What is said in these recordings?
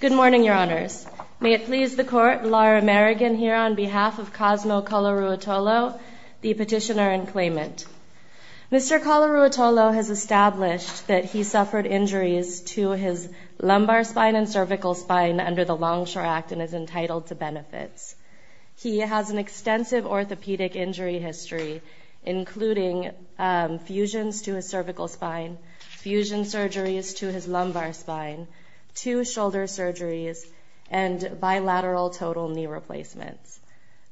Good morning, Your Honors. May it please the Court, Laura Merrigan here on behalf of Cosmo Colaruotolo, the petitioner-in-claimant. Mr. Colaruotolo has established that he suffered injuries to his lumbar spine and cervical spine under the Longshore Act and is entitled to benefits. He has an extensive orthopedic injury history, including fusions to his cervical spine, fusion surgeries to his lumbar spine, two shoulder surgeries, and bilateral total knee replacements.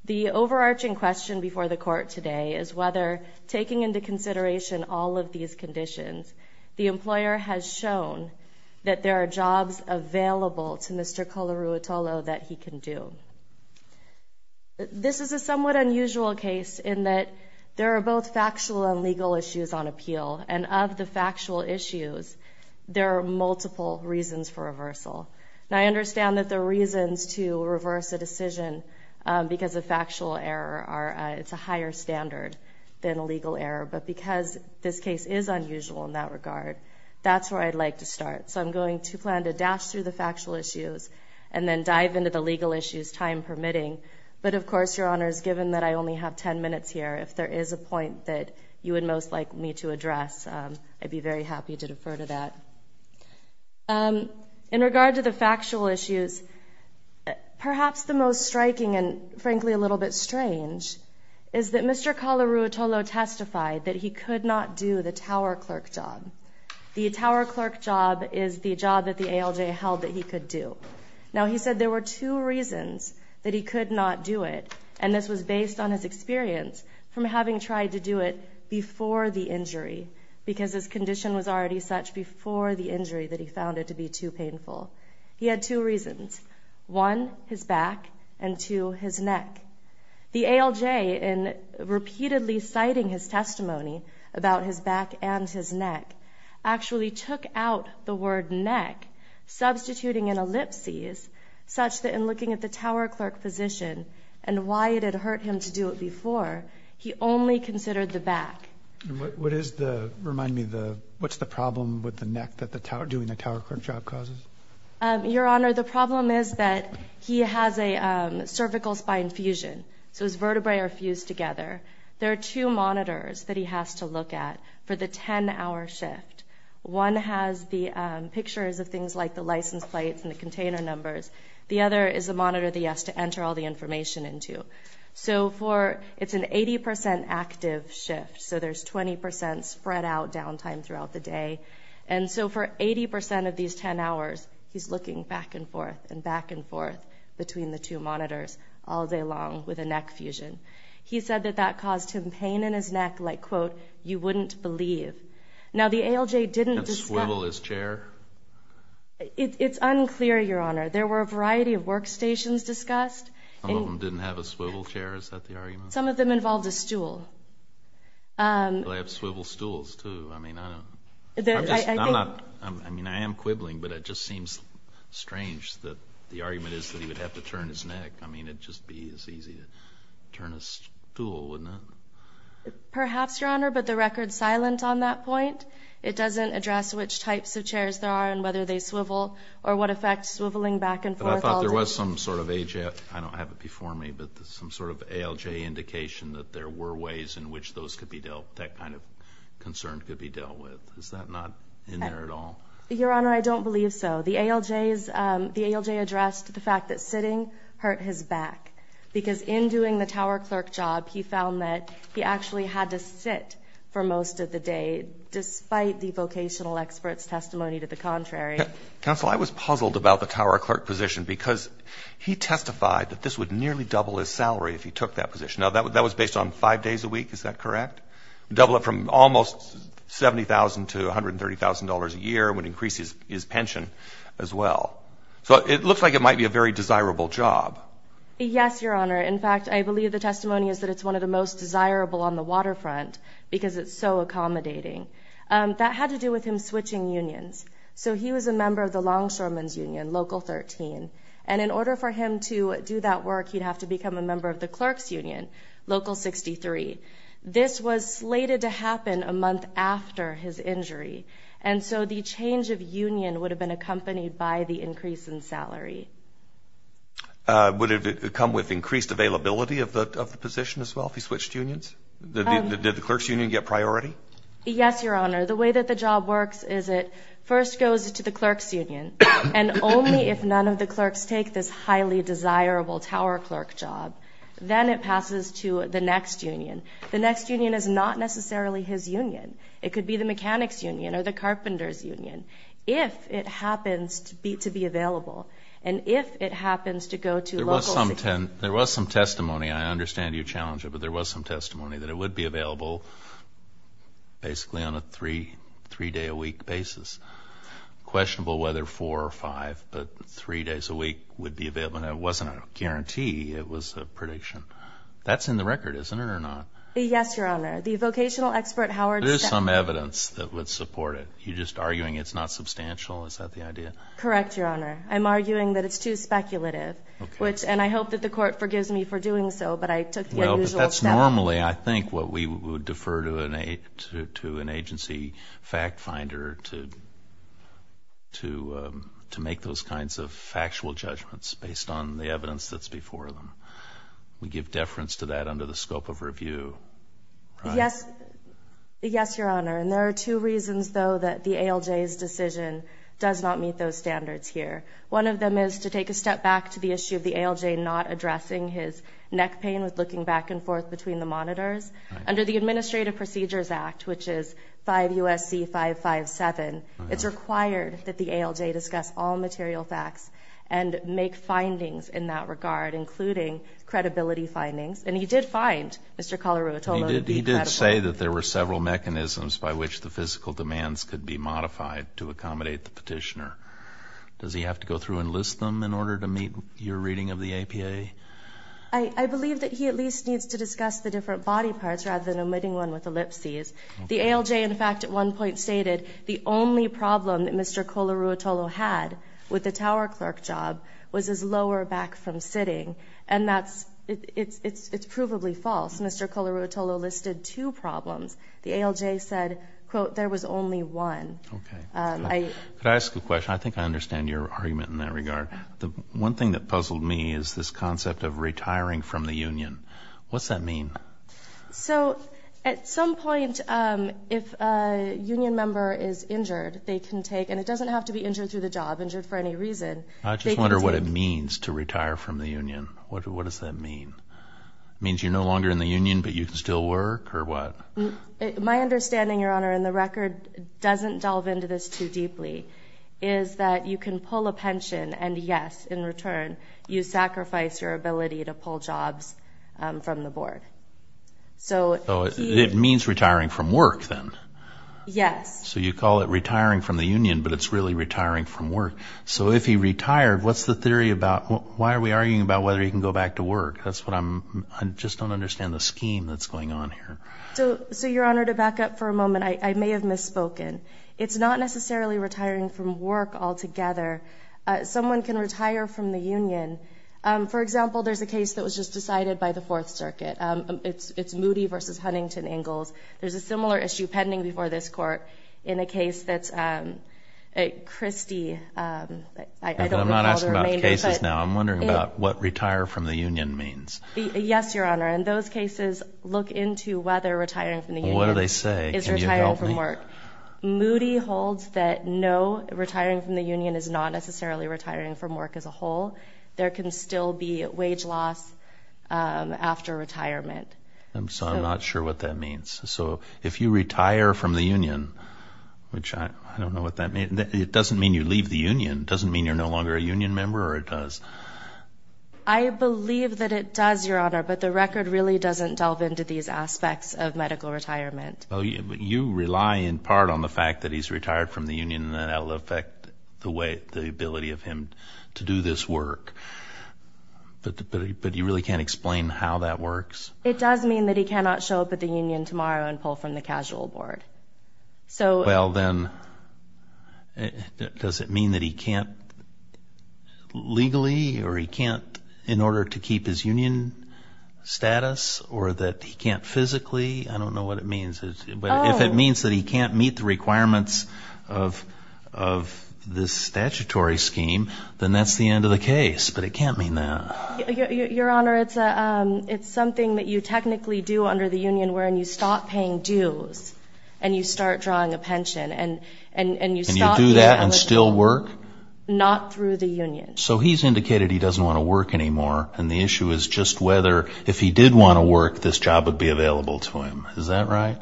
The overarching question before the Court today is whether, taking into consideration all of these conditions, the employer has shown that there are jobs available to Mr. Colaruotolo that he can do. This is a somewhat unusual case in that there are both factual and legal issues on appeal, and of the factual issues, there are multiple reasons for reversal. Now, I understand that there are reasons to reverse a decision because a factual error is a higher standard than a legal error, but because this case is unusual in that regard, that's where I'd like to start. So I'm going to plan to dash through the factual issues and then dive into the legal issues, time permitting. But of course, Your Honors, given that I only have 10 minutes here, if there is a point that you would most like me to address, I'd be very happy to defer to that. In regard to the factual issues, perhaps the most striking and, frankly, a little bit strange is that Mr. Colaruotolo testified that he could not do the tower clerk job. The tower clerk job is the job that the ALJ held that he could do. Now, he said there were two reasons that he could not do it, and this was based on his experience from having tried to do it before the injury, because his condition was already such before the injury that he found it to be too painful. He had two reasons. One, his back, and two, his neck. The ALJ, in repeatedly citing his testimony about his back and his neck, actually took out the word neck, substituting an ellipsis, such that in looking at the tower clerk physician and why it had hurt him to do it before, he only considered the back. And what is the, remind me, what's the problem with the neck that doing the tower clerk job causes? Your Honor, the problem is that he has a cervical spine fusion, so his vertebrae are fused together. There are two monitors that he has to look at for the 10-hour shift. One has the pictures of things like the license plates and the container numbers. The other is a monitor that he has to enter all the information into. So for, it's an 80% active shift, so there's 20% spread out downtime throughout the day. And so for 80% of these 10 hours, he's looking back and forth and back and forth between the two monitors all day long with a neck fusion. He said that that caused him pain in his neck like, quote, you wouldn't believe. Now the ALJ didn't discuss. Can't swivel his chair? It's unclear, Your Honor. There were a variety of workstations discussed. Some of them didn't have a swivel chair, is that the argument? Some of them involved a stool. They have swivel stools, too. I mean, I don't know. I'm just, I'm not, I mean, I am quibbling, but it just seems strange that the argument is that he would have to turn his neck. I mean, it'd just be as easy to turn a stool, wouldn't it? Perhaps, Your Honor, but the record's silent on that point. It doesn't address which types of chairs there are and whether they swivel or what effects swiveling back and forth all day. But I thought there was some sort of, I don't have it before me, but some sort of ALJ indication that there were ways in which those could be dealt, that kind of concern could be dealt with. Is that not in there at all? Your Honor, I don't believe so. The ALJ addressed the fact that sitting hurt his back because in doing the tower clerk job, he found that he actually had to sit for most of the day despite the vocational expert's testimony to the contrary. Counsel, I was puzzled about the tower clerk position because he testified that this would nearly double his salary if he took that position. Now, that was based on five days a week. Is that correct? Double it from almost $70,000 to $130,000 a year would increase his pension as well. So it looks like it might be a very desirable job. Yes, Your Honor. In fact, I believe the testimony is that it's one of the most desirable on the waterfront because it's so accommodating. That had to do with him switching unions. So he was a member of the longshoremen's union, local 13, and in order for him to do that work, he'd have to become a member of the clerk's union, local 63. This was slated to happen a month after his injury, and so the change of union would have been accompanied by the increase in salary. Would it come with increased availability of the position as well if he switched unions? Did the clerk's union get priority? Yes, Your Honor. The way that the job works is it first goes to the clerk's union, and only if none of the clerks take this highly desirable tower clerk job, then it passes to the next union. The next union is not necessarily his union. It could be the mechanic's union or the carpenter's union, if it happens to be available, and if it happens to go to local 63. There was some testimony. I understand you challenge it, but there was some testimony that it would be available basically on a three-day-a-week basis. Questionable whether four or five, but three days a week would be available, and it wasn't a guarantee. It was a prediction. That's in the record, isn't it, or not? Yes, Your Honor. The vocational expert, Howard, said that. There's some evidence that would support it. You're just arguing it's not substantial. Is that the idea? Correct, Your Honor. I'm arguing that it's too speculative, and I hope that the court forgives me for doing so, but I took the unusual step. Well, but that's normally, I think, what we would defer to an agency fact finder to make those kinds of factual judgments based on the evidence that's before them. We give deference to that under the scope of review. Yes, Your Honor, and there are two reasons, though, that the ALJ's decision does not meet those standards here. One of them is to take a step back to the issue of the ALJ not addressing his neck pain with looking back and forth between the monitors. Under the Administrative Procedures Act, which is 5 U.S.C. 557, it's required that the ALJ discuss all material facts and make findings in that regard, including credibility findings. And he did find, Mr. Colaru, a total of incredible. He did say that there were several mechanisms by which the physical demands could be modified to accommodate the petitioner. Does he have to go through and list them in order to meet your reading of the APA? I believe that he at least needs to discuss the different body parts rather than omitting one with ellipses. The ALJ, in fact, at one point stated the only problem that Mr. Colaru had with the tower clerk job was his lower back from sitting, and it's provably false. Mr. Colaru listed two problems. The ALJ said, quote, there was only one. Could I ask a question? I think I understand your argument in that regard. The one thing that puzzled me is this concept of retiring from the union. What's that mean? So at some point, if a union member is injured, they can take, and it doesn't have to be injured through the job, injured for any reason. I just wonder what it means to retire from the union. What does that mean? It means you're no longer in the union, but you can still work, or what? My understanding, Your Honor, and the record doesn't delve into this too deeply, is that you can pull a pension and, yes, in return, you sacrifice your ability to pull jobs from the board. So it means retiring from work then? Yes. So you call it retiring from the union, but it's really retiring from work. So if he retired, what's the theory about? Why are we arguing about whether he can go back to work? I just don't understand the scheme that's going on here. So, Your Honor, to back up for a moment, I may have misspoken. It's not necessarily retiring from work altogether. Someone can retire from the union. For example, there's a case that was just decided by the Fourth Circuit. It's Moody v. Huntington Ingalls. There's a similar issue pending before this Court in a case that's Christie. I'm not asking about the cases now. I'm wondering about what retire from the union means. Yes, Your Honor, and those cases look into whether retiring from the union is retiring from work. Moody holds that no, retiring from the union is not necessarily retiring from work as a whole. There can still be wage loss after retirement. So I'm not sure what that means. So if you retire from the union, which I don't know what that means. It doesn't mean you leave the union. It doesn't mean you're no longer a union member, or it does? I believe that it does, Your Honor, but the record really doesn't delve into these aspects of medical retirement. You rely in part on the fact that he's retired from the union and that will affect the ability of him to do this work. But you really can't explain how that works? It does mean that he cannot show up at the union tomorrow and pull from the casual board. Well, then, does it mean that he can't legally or he can't in order to keep his union status or that he can't physically? I don't know what it means. If it means that he can't meet the requirements of this statutory scheme, then that's the end of the case, but it can't mean that. Your Honor, it's something that you technically do under the union wherein you stop paying dues and you start drawing a pension and you stop being eligible. And you do that and still work? Not through the union. So he's indicated he doesn't want to work anymore, and the issue is just whether if he did want to work, this job would be available to him. Is that right?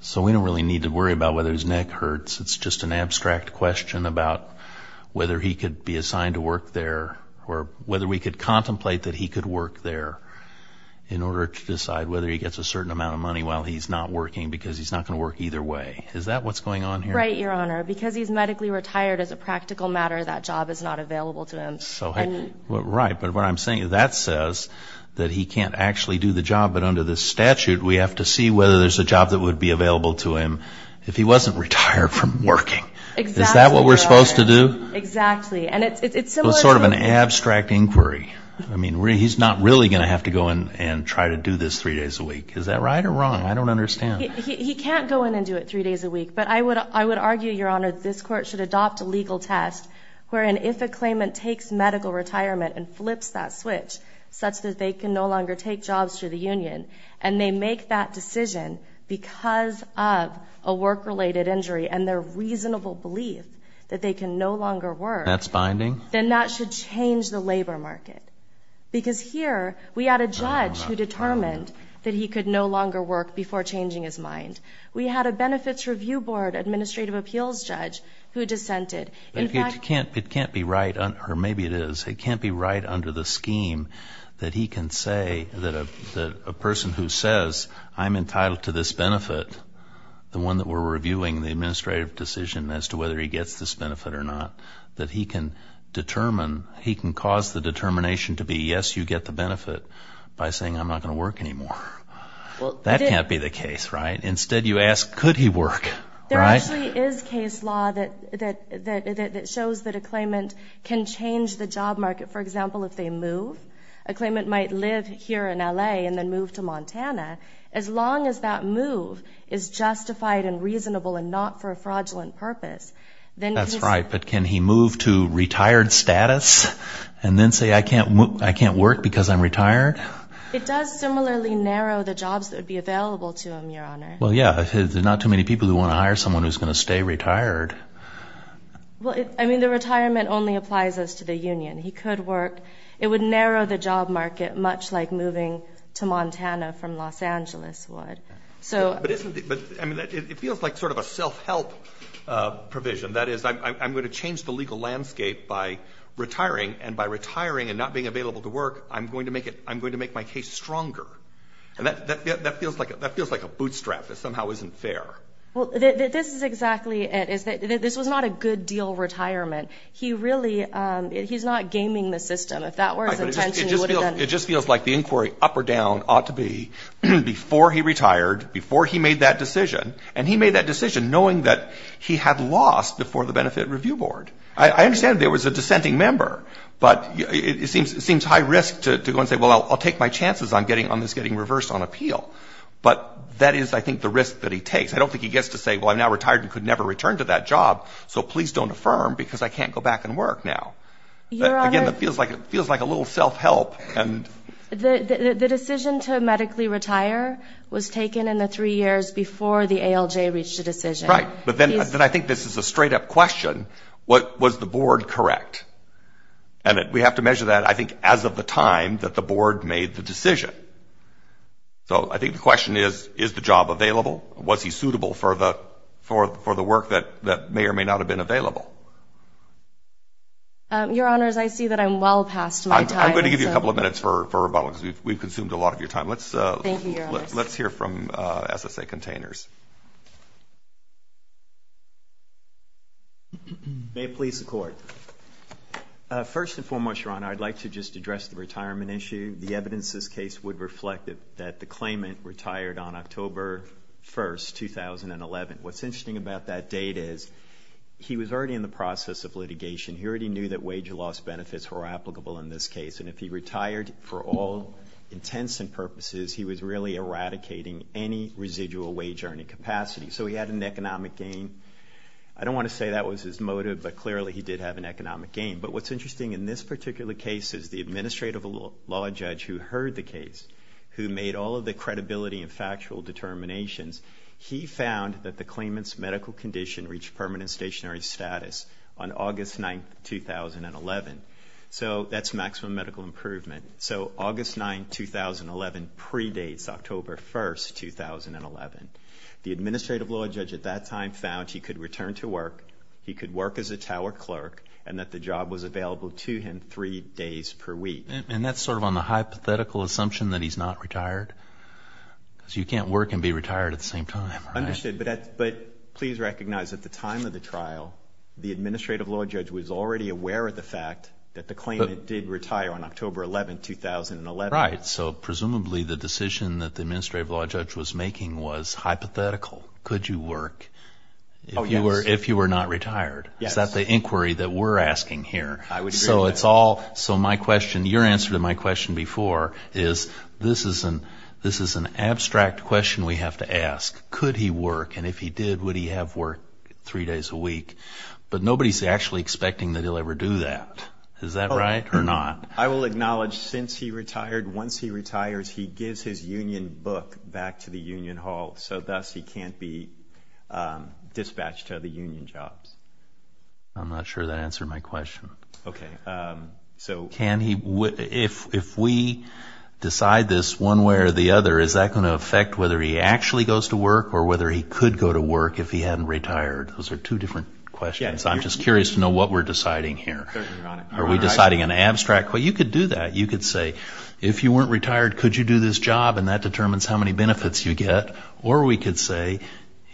So we don't really need to worry about whether his neck hurts. It's just an abstract question about whether he could be assigned to work there or whether we could contemplate that he could work there in order to decide whether he gets a certain amount of money while he's not working because he's not going to work either way. Is that what's going on here? Right, Your Honor. Because he's medically retired, as a practical matter, that job is not available to him. Right. But what I'm saying is that says that he can't actually do the job, but under this statute we have to see whether there's a job that would be available to him if he wasn't retired from working. Exactly, Your Honor. Is that what we're supposed to do? Exactly. And it's similar to the question. It's sort of an abstract inquiry. I mean, he's not really going to have to go in and try to do this three days a week. Is that right or wrong? I don't understand. He can't go in and do it three days a week. But I would argue, Your Honor, this Court should adopt a legal test wherein if a claimant takes medical retirement and flips that switch such that they can no longer take jobs through the union and they make that decision because of a work-related injury and their reasonable belief that they can no longer work. That's binding. Then that should change the labor market. Because here we had a judge who determined that he could no longer work before changing his mind. We had a benefits review board administrative appeals judge who dissented. It can't be right, or maybe it is, it can't be right under the scheme that he can say that a person who says I'm entitled to this benefit, the one that we're reviewing the administrative decision as to whether he gets this benefit or not, that he can determine, he can cause the determination to be yes, you get the benefit by saying I'm not going to work anymore. That can't be the case, right? Instead you ask could he work, right? There actually is case law that shows that a claimant can change the job market. For example, if they move, a claimant might live here in L.A. and then move to Montana. As long as that move is justified and reasonable and not for a fraudulent purpose. That's right, but can he move to retired status and then say I can't work because I'm retired? It does similarly narrow the jobs that would be available to him, Your Honor. Well, yeah, there's not too many people who want to hire someone who's going to stay retired. Well, I mean the retirement only applies as to the union. He could work. It would narrow the job market much like moving to Montana from Los Angeles would. But it feels like sort of a self-help provision. That is I'm going to change the legal landscape by retiring, and by retiring and not being available to work, I'm going to make my case stronger. And that feels like a bootstrap that somehow isn't fair. Well, this is exactly it. This was not a good deal retirement. He really, he's not gaming the system. If that were his intention, he would have done it. It just feels like the inquiry up or down ought to be before he retired, before he made that decision, and he made that decision knowing that he had lost before the Benefit Review Board. I understand there was a dissenting member, but it seems high risk to go and say, well, I'll take my chances on this getting reversed on appeal. But that is, I think, the risk that he takes. I don't think he gets to say, well, I'm now retired and could never return to that job, so please don't affirm because I can't go back and work now. Again, it feels like a little self-help. The decision to medically retire was taken in the three years before the ALJ reached a decision. Right. But then I think this is a straight-up question. Was the board correct? And we have to measure that, I think, as of the time that the board made the decision. So I think the question is, is the job available? Was he suitable for the work that may or may not have been available? Your Honors, I see that I'm well past my time. I'm going to give you a couple of minutes for rebuttal because we've consumed a lot of your time. Thank you, Your Honors. Let's hear from SSA Containers. May it please the Court. First and foremost, Your Honor, I'd like to just address the retirement issue. The evidence in this case would reflect that the claimant retired on October 1, 2011. What's interesting about that date is he was already in the process of litigation. He already knew that wage loss benefits were applicable in this case, and if he retired for all intents and purposes, he was really eradicating any residual wage earning capacity. So he had an economic gain. I don't want to say that was his motive, but clearly he did have an economic gain. But what's interesting in this particular case is the administrative law judge who heard the case, who made all of the credibility and factual determinations, he found that the claimant's medical condition reached permanent stationary status on August 9, 2011. So that's maximum medical improvement. So August 9, 2011 predates October 1, 2011. The administrative law judge at that time found he could return to work, he could work as a tower clerk, and that the job was available to him three days per week. And that's sort of on the hypothetical assumption that he's not retired? Because you can't work and be retired at the same time, right? Understood. But please recognize at the time of the trial, the administrative law judge was already aware of the fact that the claimant did retire on October 11, 2011. Right. So presumably the decision that the administrative law judge was making was hypothetical. Could you work if you were not retired? Yes. Is that the inquiry that we're asking here? I would agree with that. So my question, your answer to my question before, is this is an abstract question we have to ask. Could he work? And if he did, would he have work three days a week? But nobody's actually expecting that he'll ever do that. Is that right or not? I will acknowledge since he retired, once he retires, he gives his union book back to the union hall so thus he can't be dispatched to other union jobs. I'm not sure that answered my question. Okay. So can he, if we decide this one way or the other, is that going to affect whether he actually goes to work or whether he could go to work if he hadn't retired? Those are two different questions. I'm just curious to know what we're deciding here. Are we deciding an abstract? Well, you could do that. You could say, if you weren't retired, could you do this job? And that determines how many benefits you get. Or we could say,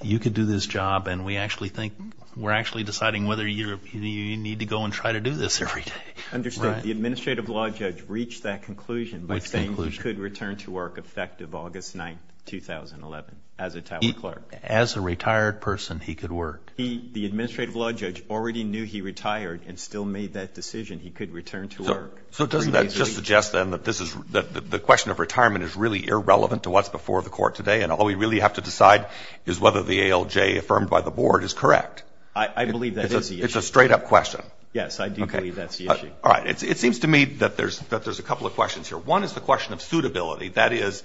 you could do this job, and we actually think we're actually deciding whether you need to go and try to do this every day. Understood. The administrative law judge reached that conclusion by saying he could return to work effective August 9th, 2011, as a tower clerk. As a retired person, he could work. The administrative law judge already knew he retired and still made that decision. He could return to work. So doesn't that just suggest, then, that the question of retirement is really irrelevant to what's before the court today, and all we really have to decide is whether the ALJ affirmed by the board is correct? I believe that is the issue. It's a straight-up question. Yes, I do believe that's the issue. All right. It seems to me that there's a couple of questions here. One is the question of suitability. That is,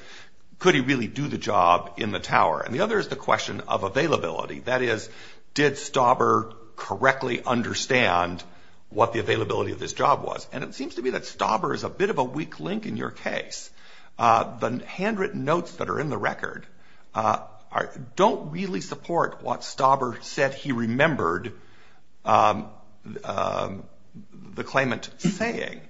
could he really do the job in the tower? And the other is the question of availability. That is, did Stauber correctly understand what the availability of this job was? And it seems to me that Stauber is a bit of a weak link in your case. The handwritten notes that are in the record don't really support what Stauber said he remembered the claimant saying.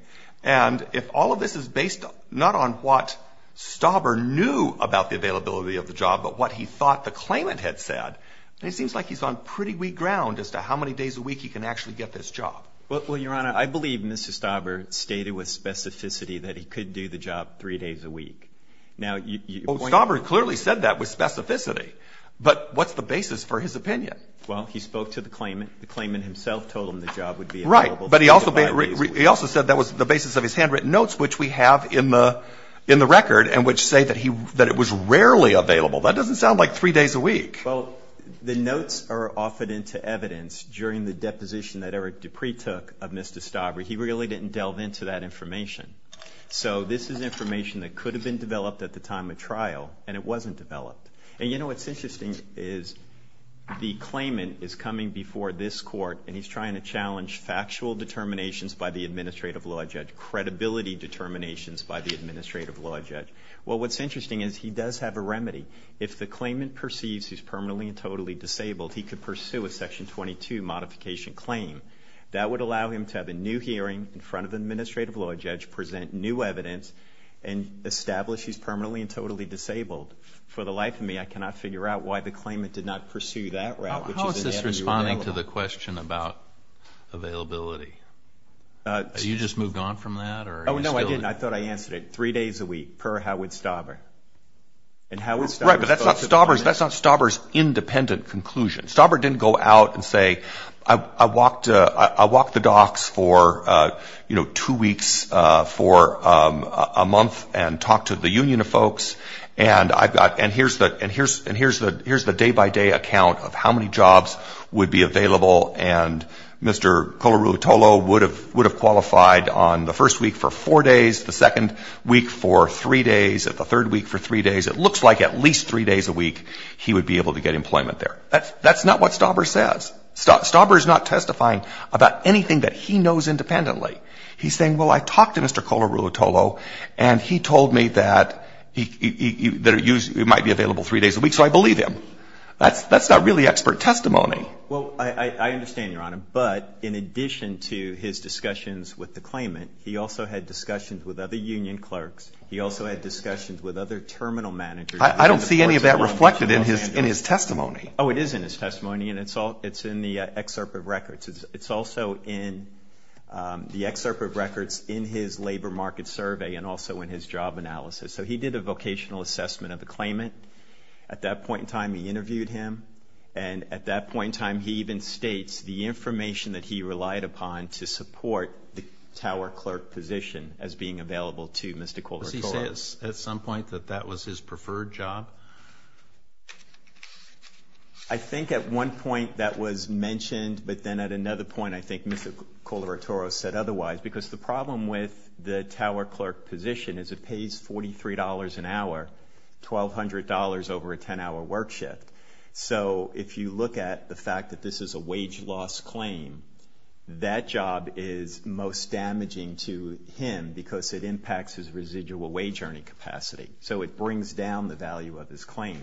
And if all of this is based not on what Stauber knew about the availability of the job but what he thought the claimant had said, then it seems like he's on pretty weak ground as to how many days a week he can actually get this job. Well, Your Honor, I believe Mr. Stauber stated with specificity that he could do the job three days a week. Now, you point to the claimant. Well, Stauber clearly said that with specificity. But what's the basis for his opinion? Well, he spoke to the claimant. The claimant himself told him the job would be available three to five days a week. Right. But he also said that was the basis of his handwritten notes, which we have in the record, and which say that it was rarely available. That doesn't sound like three days a week. Well, the notes are offered into evidence during the deposition that Eric Dupree took of Mr. Stauber. He really didn't delve into that information. So this is information that could have been developed at the time of trial, and it wasn't developed. And you know what's interesting is the claimant is coming before this court, and he's trying to challenge factual determinations by the administrative law judge, credibility determinations by the administrative law judge. Well, what's interesting is he does have a remedy. If the claimant perceives he's permanently and totally disabled, he could pursue a Section 22 modification claim. That would allow him to have a new hearing in front of the administrative law judge, present new evidence, and establish he's permanently and totally disabled. For the life of me, I cannot figure out why the claimant did not pursue that route, which is in the avenue of bailout. How is this responding to the question about availability? Have you just moved on from that? Oh, no, I didn't. I thought I answered it. Right, but that's not Stauber's independent conclusion. Stauber didn't go out and say, I walked the docks for, you know, two weeks, for a month, and talked to the union of folks, and here's the day-by-day account of how many jobs would be available, and Mr. Kolaruotolo would have qualified on the first week for four days, the second week for three days, and the third week for three days. It looks like at least three days a week he would be able to get employment there. That's not what Stauber says. Stauber is not testifying about anything that he knows independently. He's saying, well, I talked to Mr. Kolaruotolo, and he told me that it might be available three days a week, so I believe him. That's not really expert testimony. Well, I understand, Your Honor, but in addition to his discussions with the claimant, he also had discussions with other union clerks. He also had discussions with other terminal managers. I don't see any of that reflected in his testimony. Oh, it is in his testimony, and it's in the excerpt of records. It's also in the excerpt of records in his labor market survey and also in his job analysis. So he did a vocational assessment of the claimant. At that point in time, he interviewed him, and at that point in time, he even states the information that he relied upon to support the tower clerk position as being available to Mr. Kolaruotolo. Does he say at some point that that was his preferred job? I think at one point that was mentioned, but then at another point I think Mr. Kolaruotolo said otherwise because the problem with the tower clerk position is it pays $43 an hour, $1,200 over a 10-hour work shift. So if you look at the fact that this is a wage loss claim, that job is most damaging to him because it impacts his residual wage earning capacity. So it brings down the value of his claim.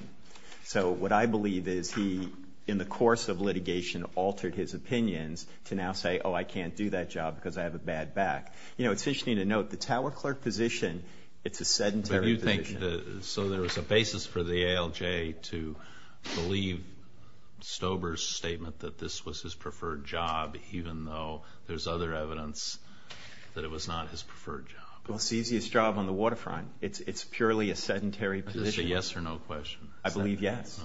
So what I believe is he, in the course of litigation, altered his opinions to now say, oh, I can't do that job because I have a bad back. It's interesting to note the tower clerk position, it's a sedentary position. So there was a basis for the ALJ to believe Stober's statement that this was his preferred job, even though there's other evidence that it was not his preferred job. Well, it's the easiest job on the waterfront. It's purely a sedentary position. Is this a yes or no question? I believe yes.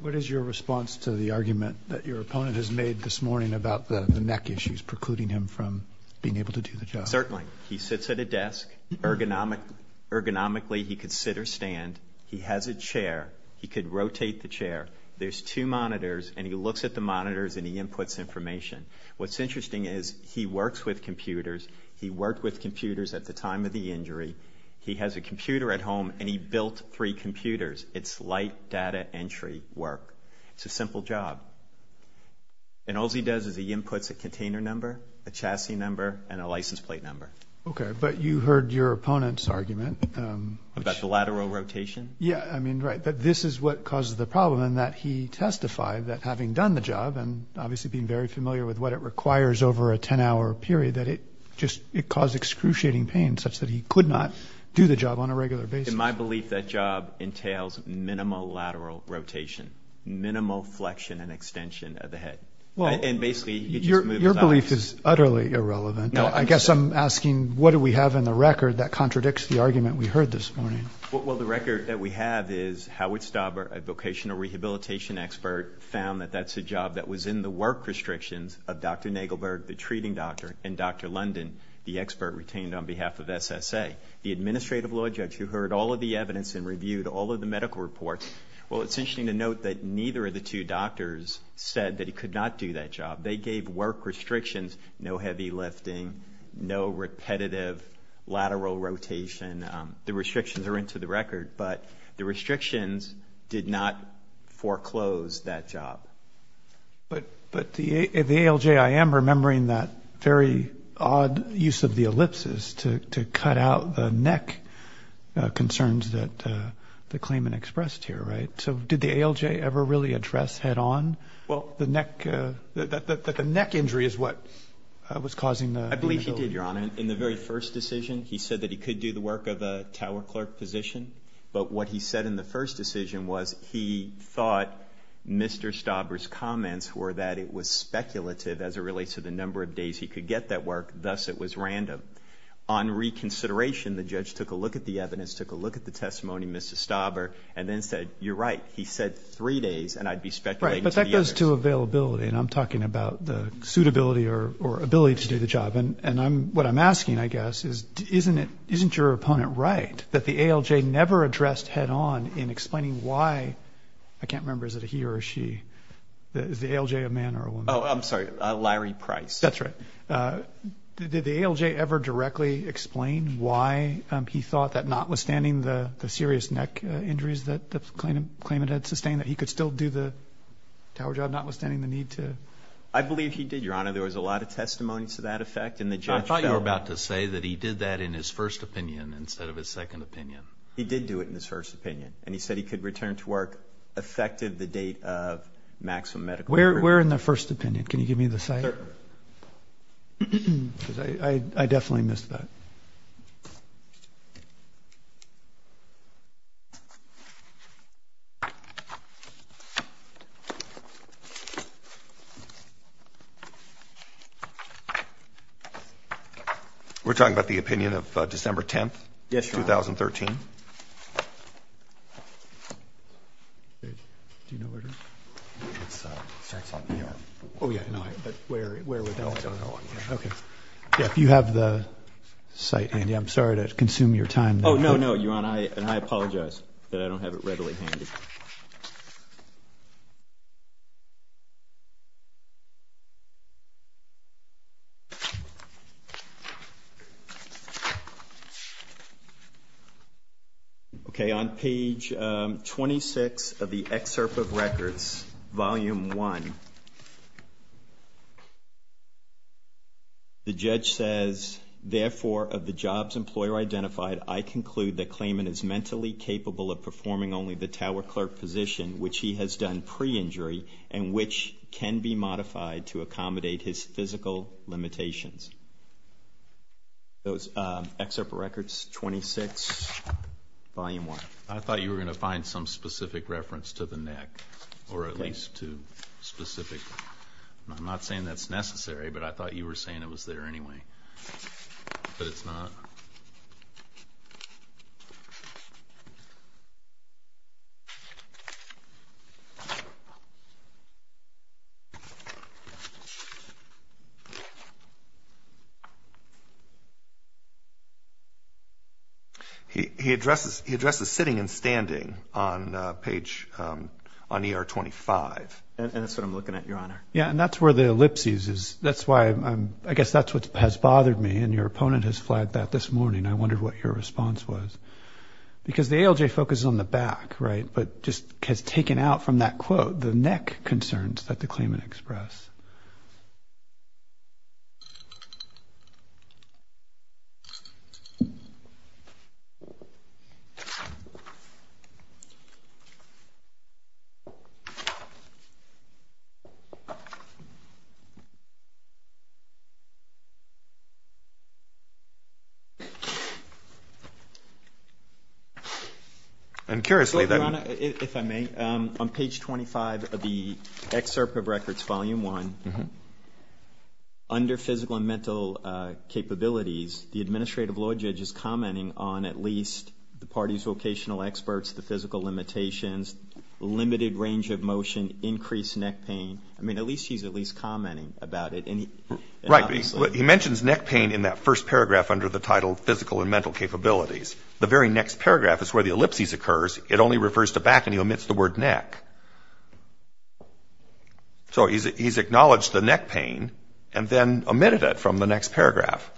What is your response to the argument that your opponent has made this morning about the neck issues precluding him from being able to do the job? Certainly. He sits at a desk. Ergonomically, he could sit or stand. He has a chair. He could rotate the chair. There's two monitors, and he looks at the monitors, and he inputs information. What's interesting is he works with computers. He worked with computers at the time of the injury. He has a computer at home, and he built three computers. It's light data entry work. It's a simple job. And all he does is he inputs a container number, a chassis number, and a license plate number. Okay, but you heard your opponent's argument. About the lateral rotation? Yeah, I mean, right, that this is what causes the problem, and that he testified that having done the job and obviously being very familiar with what it requires over a 10-hour period, that it caused excruciating pain such that he could not do the job on a regular basis. In my belief, that job entails minimal lateral rotation, minimal flexion and extension of the head. And basically, you just move his arm. Your belief is utterly irrelevant. I guess I'm asking what do we have in the record that contradicts the argument we heard this morning? Well, the record that we have is Howard Stauber, a vocational rehabilitation expert, found that that's a job that was in the work restrictions of Dr. Nagelberg, the treating doctor, and Dr. London, the expert retained on behalf of SSA. The administrative law judge who heard all of the evidence and reviewed all of the medical reports, well, it's interesting to note that neither of the two doctors said that he could not do that job. They gave work restrictions, no heavy lifting, no repetitive lateral rotation. The restrictions are into the record, but the restrictions did not foreclose that job. But the ALJIM remembering that very odd use of the ellipsis to cut out the neck concerns that the claimant expressed here, right? So did the ALJ ever really address head on that the neck injury is what was causing the inability? I believe he did, Your Honor. In the very first decision, he said that he could do the work of a tower clerk position. But what he said in the first decision was he thought Mr. Stauber's comments were that it was speculative as it relates to the number of days he could get that work, thus it was random. On reconsideration, the judge took a look at the evidence, took a look at the testimony of Mr. Stauber, and then said, you're right, he said three days, and I'd be speculating to the others. Right, but that goes to availability, and I'm talking about the suitability or ability to do the job. And what I'm asking, I guess, is isn't your opponent right that the ALJ never addressed head on in explaining why? I can't remember, is it a he or a she? Is the ALJ a man or a woman? Oh, I'm sorry, Larry Price. That's right. Did the ALJ ever directly explain why he thought that notwithstanding the serious neck injuries that the claimant had sustained, that he could still do the tower job notwithstanding the need to? I believe he did, Your Honor. There was a lot of testimony to that effect. I thought you were about to say that he did that in his first opinion instead of his second opinion. He did do it in his first opinion, and he said he could return to work effective the date of maximum medical care. Where in the first opinion? Can you give me the site? Sure. I definitely missed that. We're talking about the opinion of December 10th, 2013? Yes, Your Honor. Do you know where it is? It's on here. Oh, yeah, but where would that be? I don't know. Okay. Yeah, if you have the site, Andy, I'm sorry to consume your time. Oh, no, no, Your Honor, and I apologize that I don't have it readily handy. Okay. On page 26 of the Excerpt of Records, Volume 1, the judge says, Therefore, of the jobs employer identified, I conclude that Klayman is mentally capable of performing only the tower clerk position, which he has done pre-injury and which can be modified to accommodate his physical limitations. Those Excerpt of Records, 26, Volume 1. I thought you were going to find some specific reference to the neck, or at least to specific. I'm not saying that's necessary, but I thought you were saying it was there anyway, but it's not. Okay. He addresses sitting and standing on page, on ER 25. And that's what I'm looking at, Your Honor. Yeah, and that's where the ellipses is. That's why I'm, I guess that's what has bothered me, and your opponent has flagged that this morning. And I wondered what your response was. Because the ALJ focuses on the back, right? But just has taken out from that quote the neck concerns that the Klayman expressed. And curiously that. Your Honor, if I may, on page 25 of the Excerpt of Records, Volume 1, under physical and mental capabilities, the administrative law judge is commenting on at least the party's vocational experts, the physical limitations, limited range of motion, increased neck pain. I mean, at least he's at least commenting about it. Right. He mentions neck pain in that first paragraph under the title physical and mental capabilities. The very next paragraph is where the ellipses occurs. It only refers to back, and he omits the word neck. So he's acknowledged the neck pain and then omitted it from the next paragraph.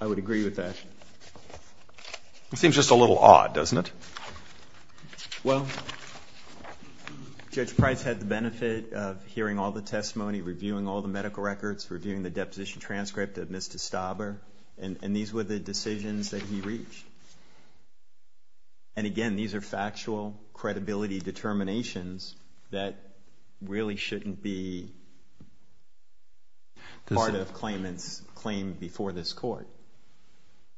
I would agree with that. It seems just a little odd, doesn't it? Well, Judge Price had the benefit of hearing all the testimony, reviewing all the medical records, reviewing the deposition transcript of Ms. DeStaber, and these were the decisions that he reached. And again, these are factual credibility determinations that really shouldn't be part of Klayman's claim before this court.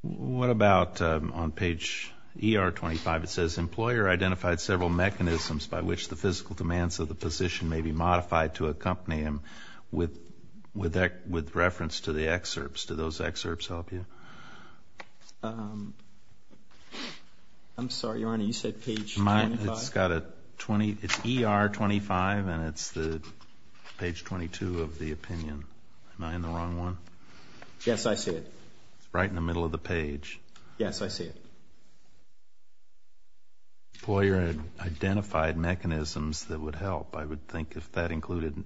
What about on page ER25, it says, employer identified several mechanisms by which the physical demands of the position may be modified to accompany them with reference to the excerpts. Do those excerpts help you? I'm sorry, Your Honor. You said page 25? It's got a 20. It's ER25, and it's page 22 of the opinion. Am I in the wrong one? Yes, I see it. It's right in the middle of the page. Yes, I see it. Employer identified mechanisms that would help. I would think if that included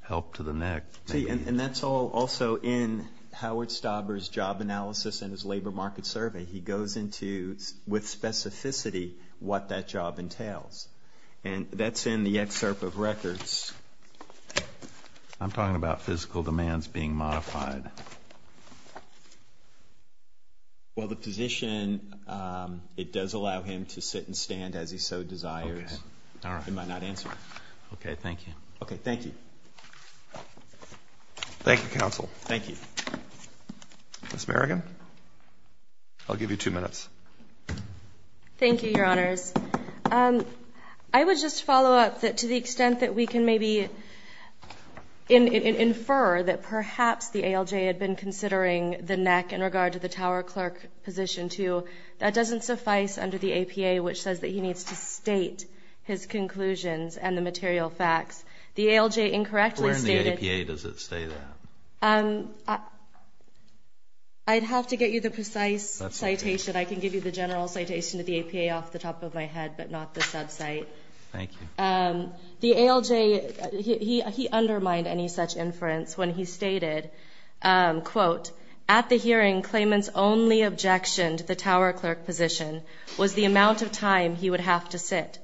help to the neck. See, and that's all also in Howard Staber's job analysis and his labor market survey. He goes into, with specificity, what that job entails. And that's in the excerpt of records. I'm talking about physical demands being modified. Well, the position, it does allow him to sit and stand as he so desires. All right. He might not answer. Okay, thank you. Okay, thank you. Thank you, counsel. Thank you. Ms. Merrigan, I'll give you two minutes. Thank you, Your Honors. I would just follow up that to the extent that we can maybe infer that perhaps the ALJ had been considering the neck in regard to the tower clerk position, too, that doesn't suffice under the APA, which says that he needs to state his conclusions and the material facts. The ALJ incorrectly stated. Where in the APA does it say that? I'd have to get you the precise citation. I can give you the general citation of the APA off the top of my head, but not the subcite. Thank you. The ALJ, he undermined any such inference when he stated, quote, at the hearing, claimants only objectioned the tower clerk position was the amount of time he would have to sit.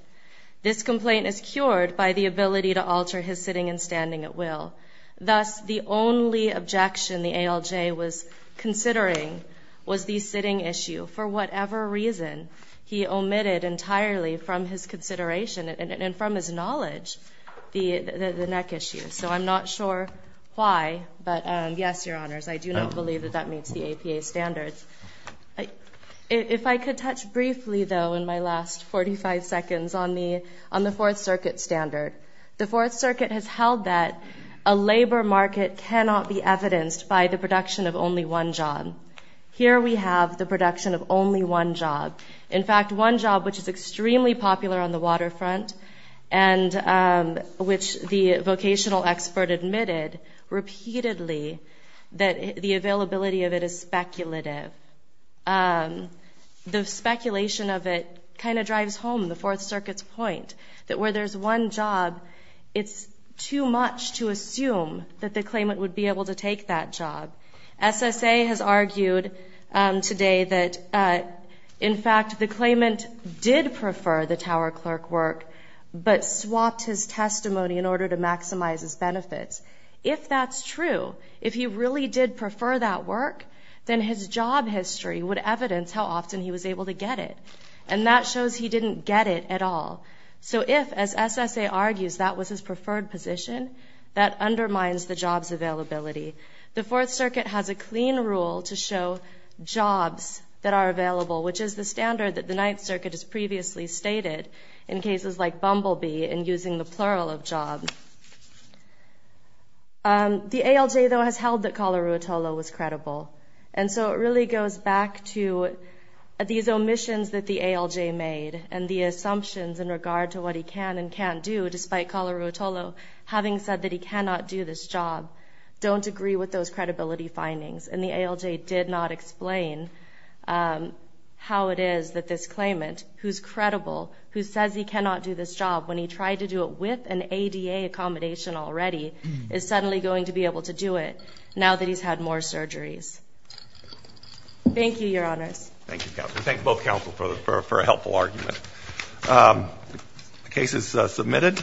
This complaint is cured by the ability to alter his sitting and standing at will. Thus, the only objection the ALJ was considering was the sitting issue. For whatever reason, he omitted entirely from his consideration and from his knowledge the neck issue. So I'm not sure why, but yes, Your Honors, I do not believe that that meets the APA standards. If I could touch briefly, though, in my last 45 seconds on the Fourth Circuit standard. The Fourth Circuit has held that a labor market cannot be evidenced by the production of only one job. Here we have the production of only one job, in fact, one job which is extremely popular on the waterfront and which the vocational expert admitted repeatedly that the availability of it is speculative. The speculation of it kind of drives home the Fourth Circuit's point that where there's one job, it's too much to assume that the claimant would be able to take that job. SSA has argued today that, in fact, the claimant did prefer the tower clerk work, but swapped his testimony in order to maximize his benefits. If that's true, if he really did prefer that work, then his job history would evidence how often he was able to get it. And that shows he didn't get it at all. So if, as SSA argues, that was his preferred position, that undermines the job's availability. The Fourth Circuit has a clean rule to show jobs that are available, which is the standard that the Ninth Circuit has previously stated in cases like Bumblebee and using the plural of job. The ALJ, though, has held that Kalaruotolo was credible. And so it really goes back to these omissions that the ALJ made and the assumptions in regard to what he can and can't do, despite Kalaruotolo having said that he cannot do this job, don't agree with those credibility findings. And the ALJ did not explain how it is that this claimant, who's credible, who says he cannot do this job when he tried to do it with an ADA accommodation already, is suddenly going to be able to do it now that he's had more surgeries. Thank you, Your Honors. Thank you, counsel. Thank both counsel for a helpful argument. The case is submitted.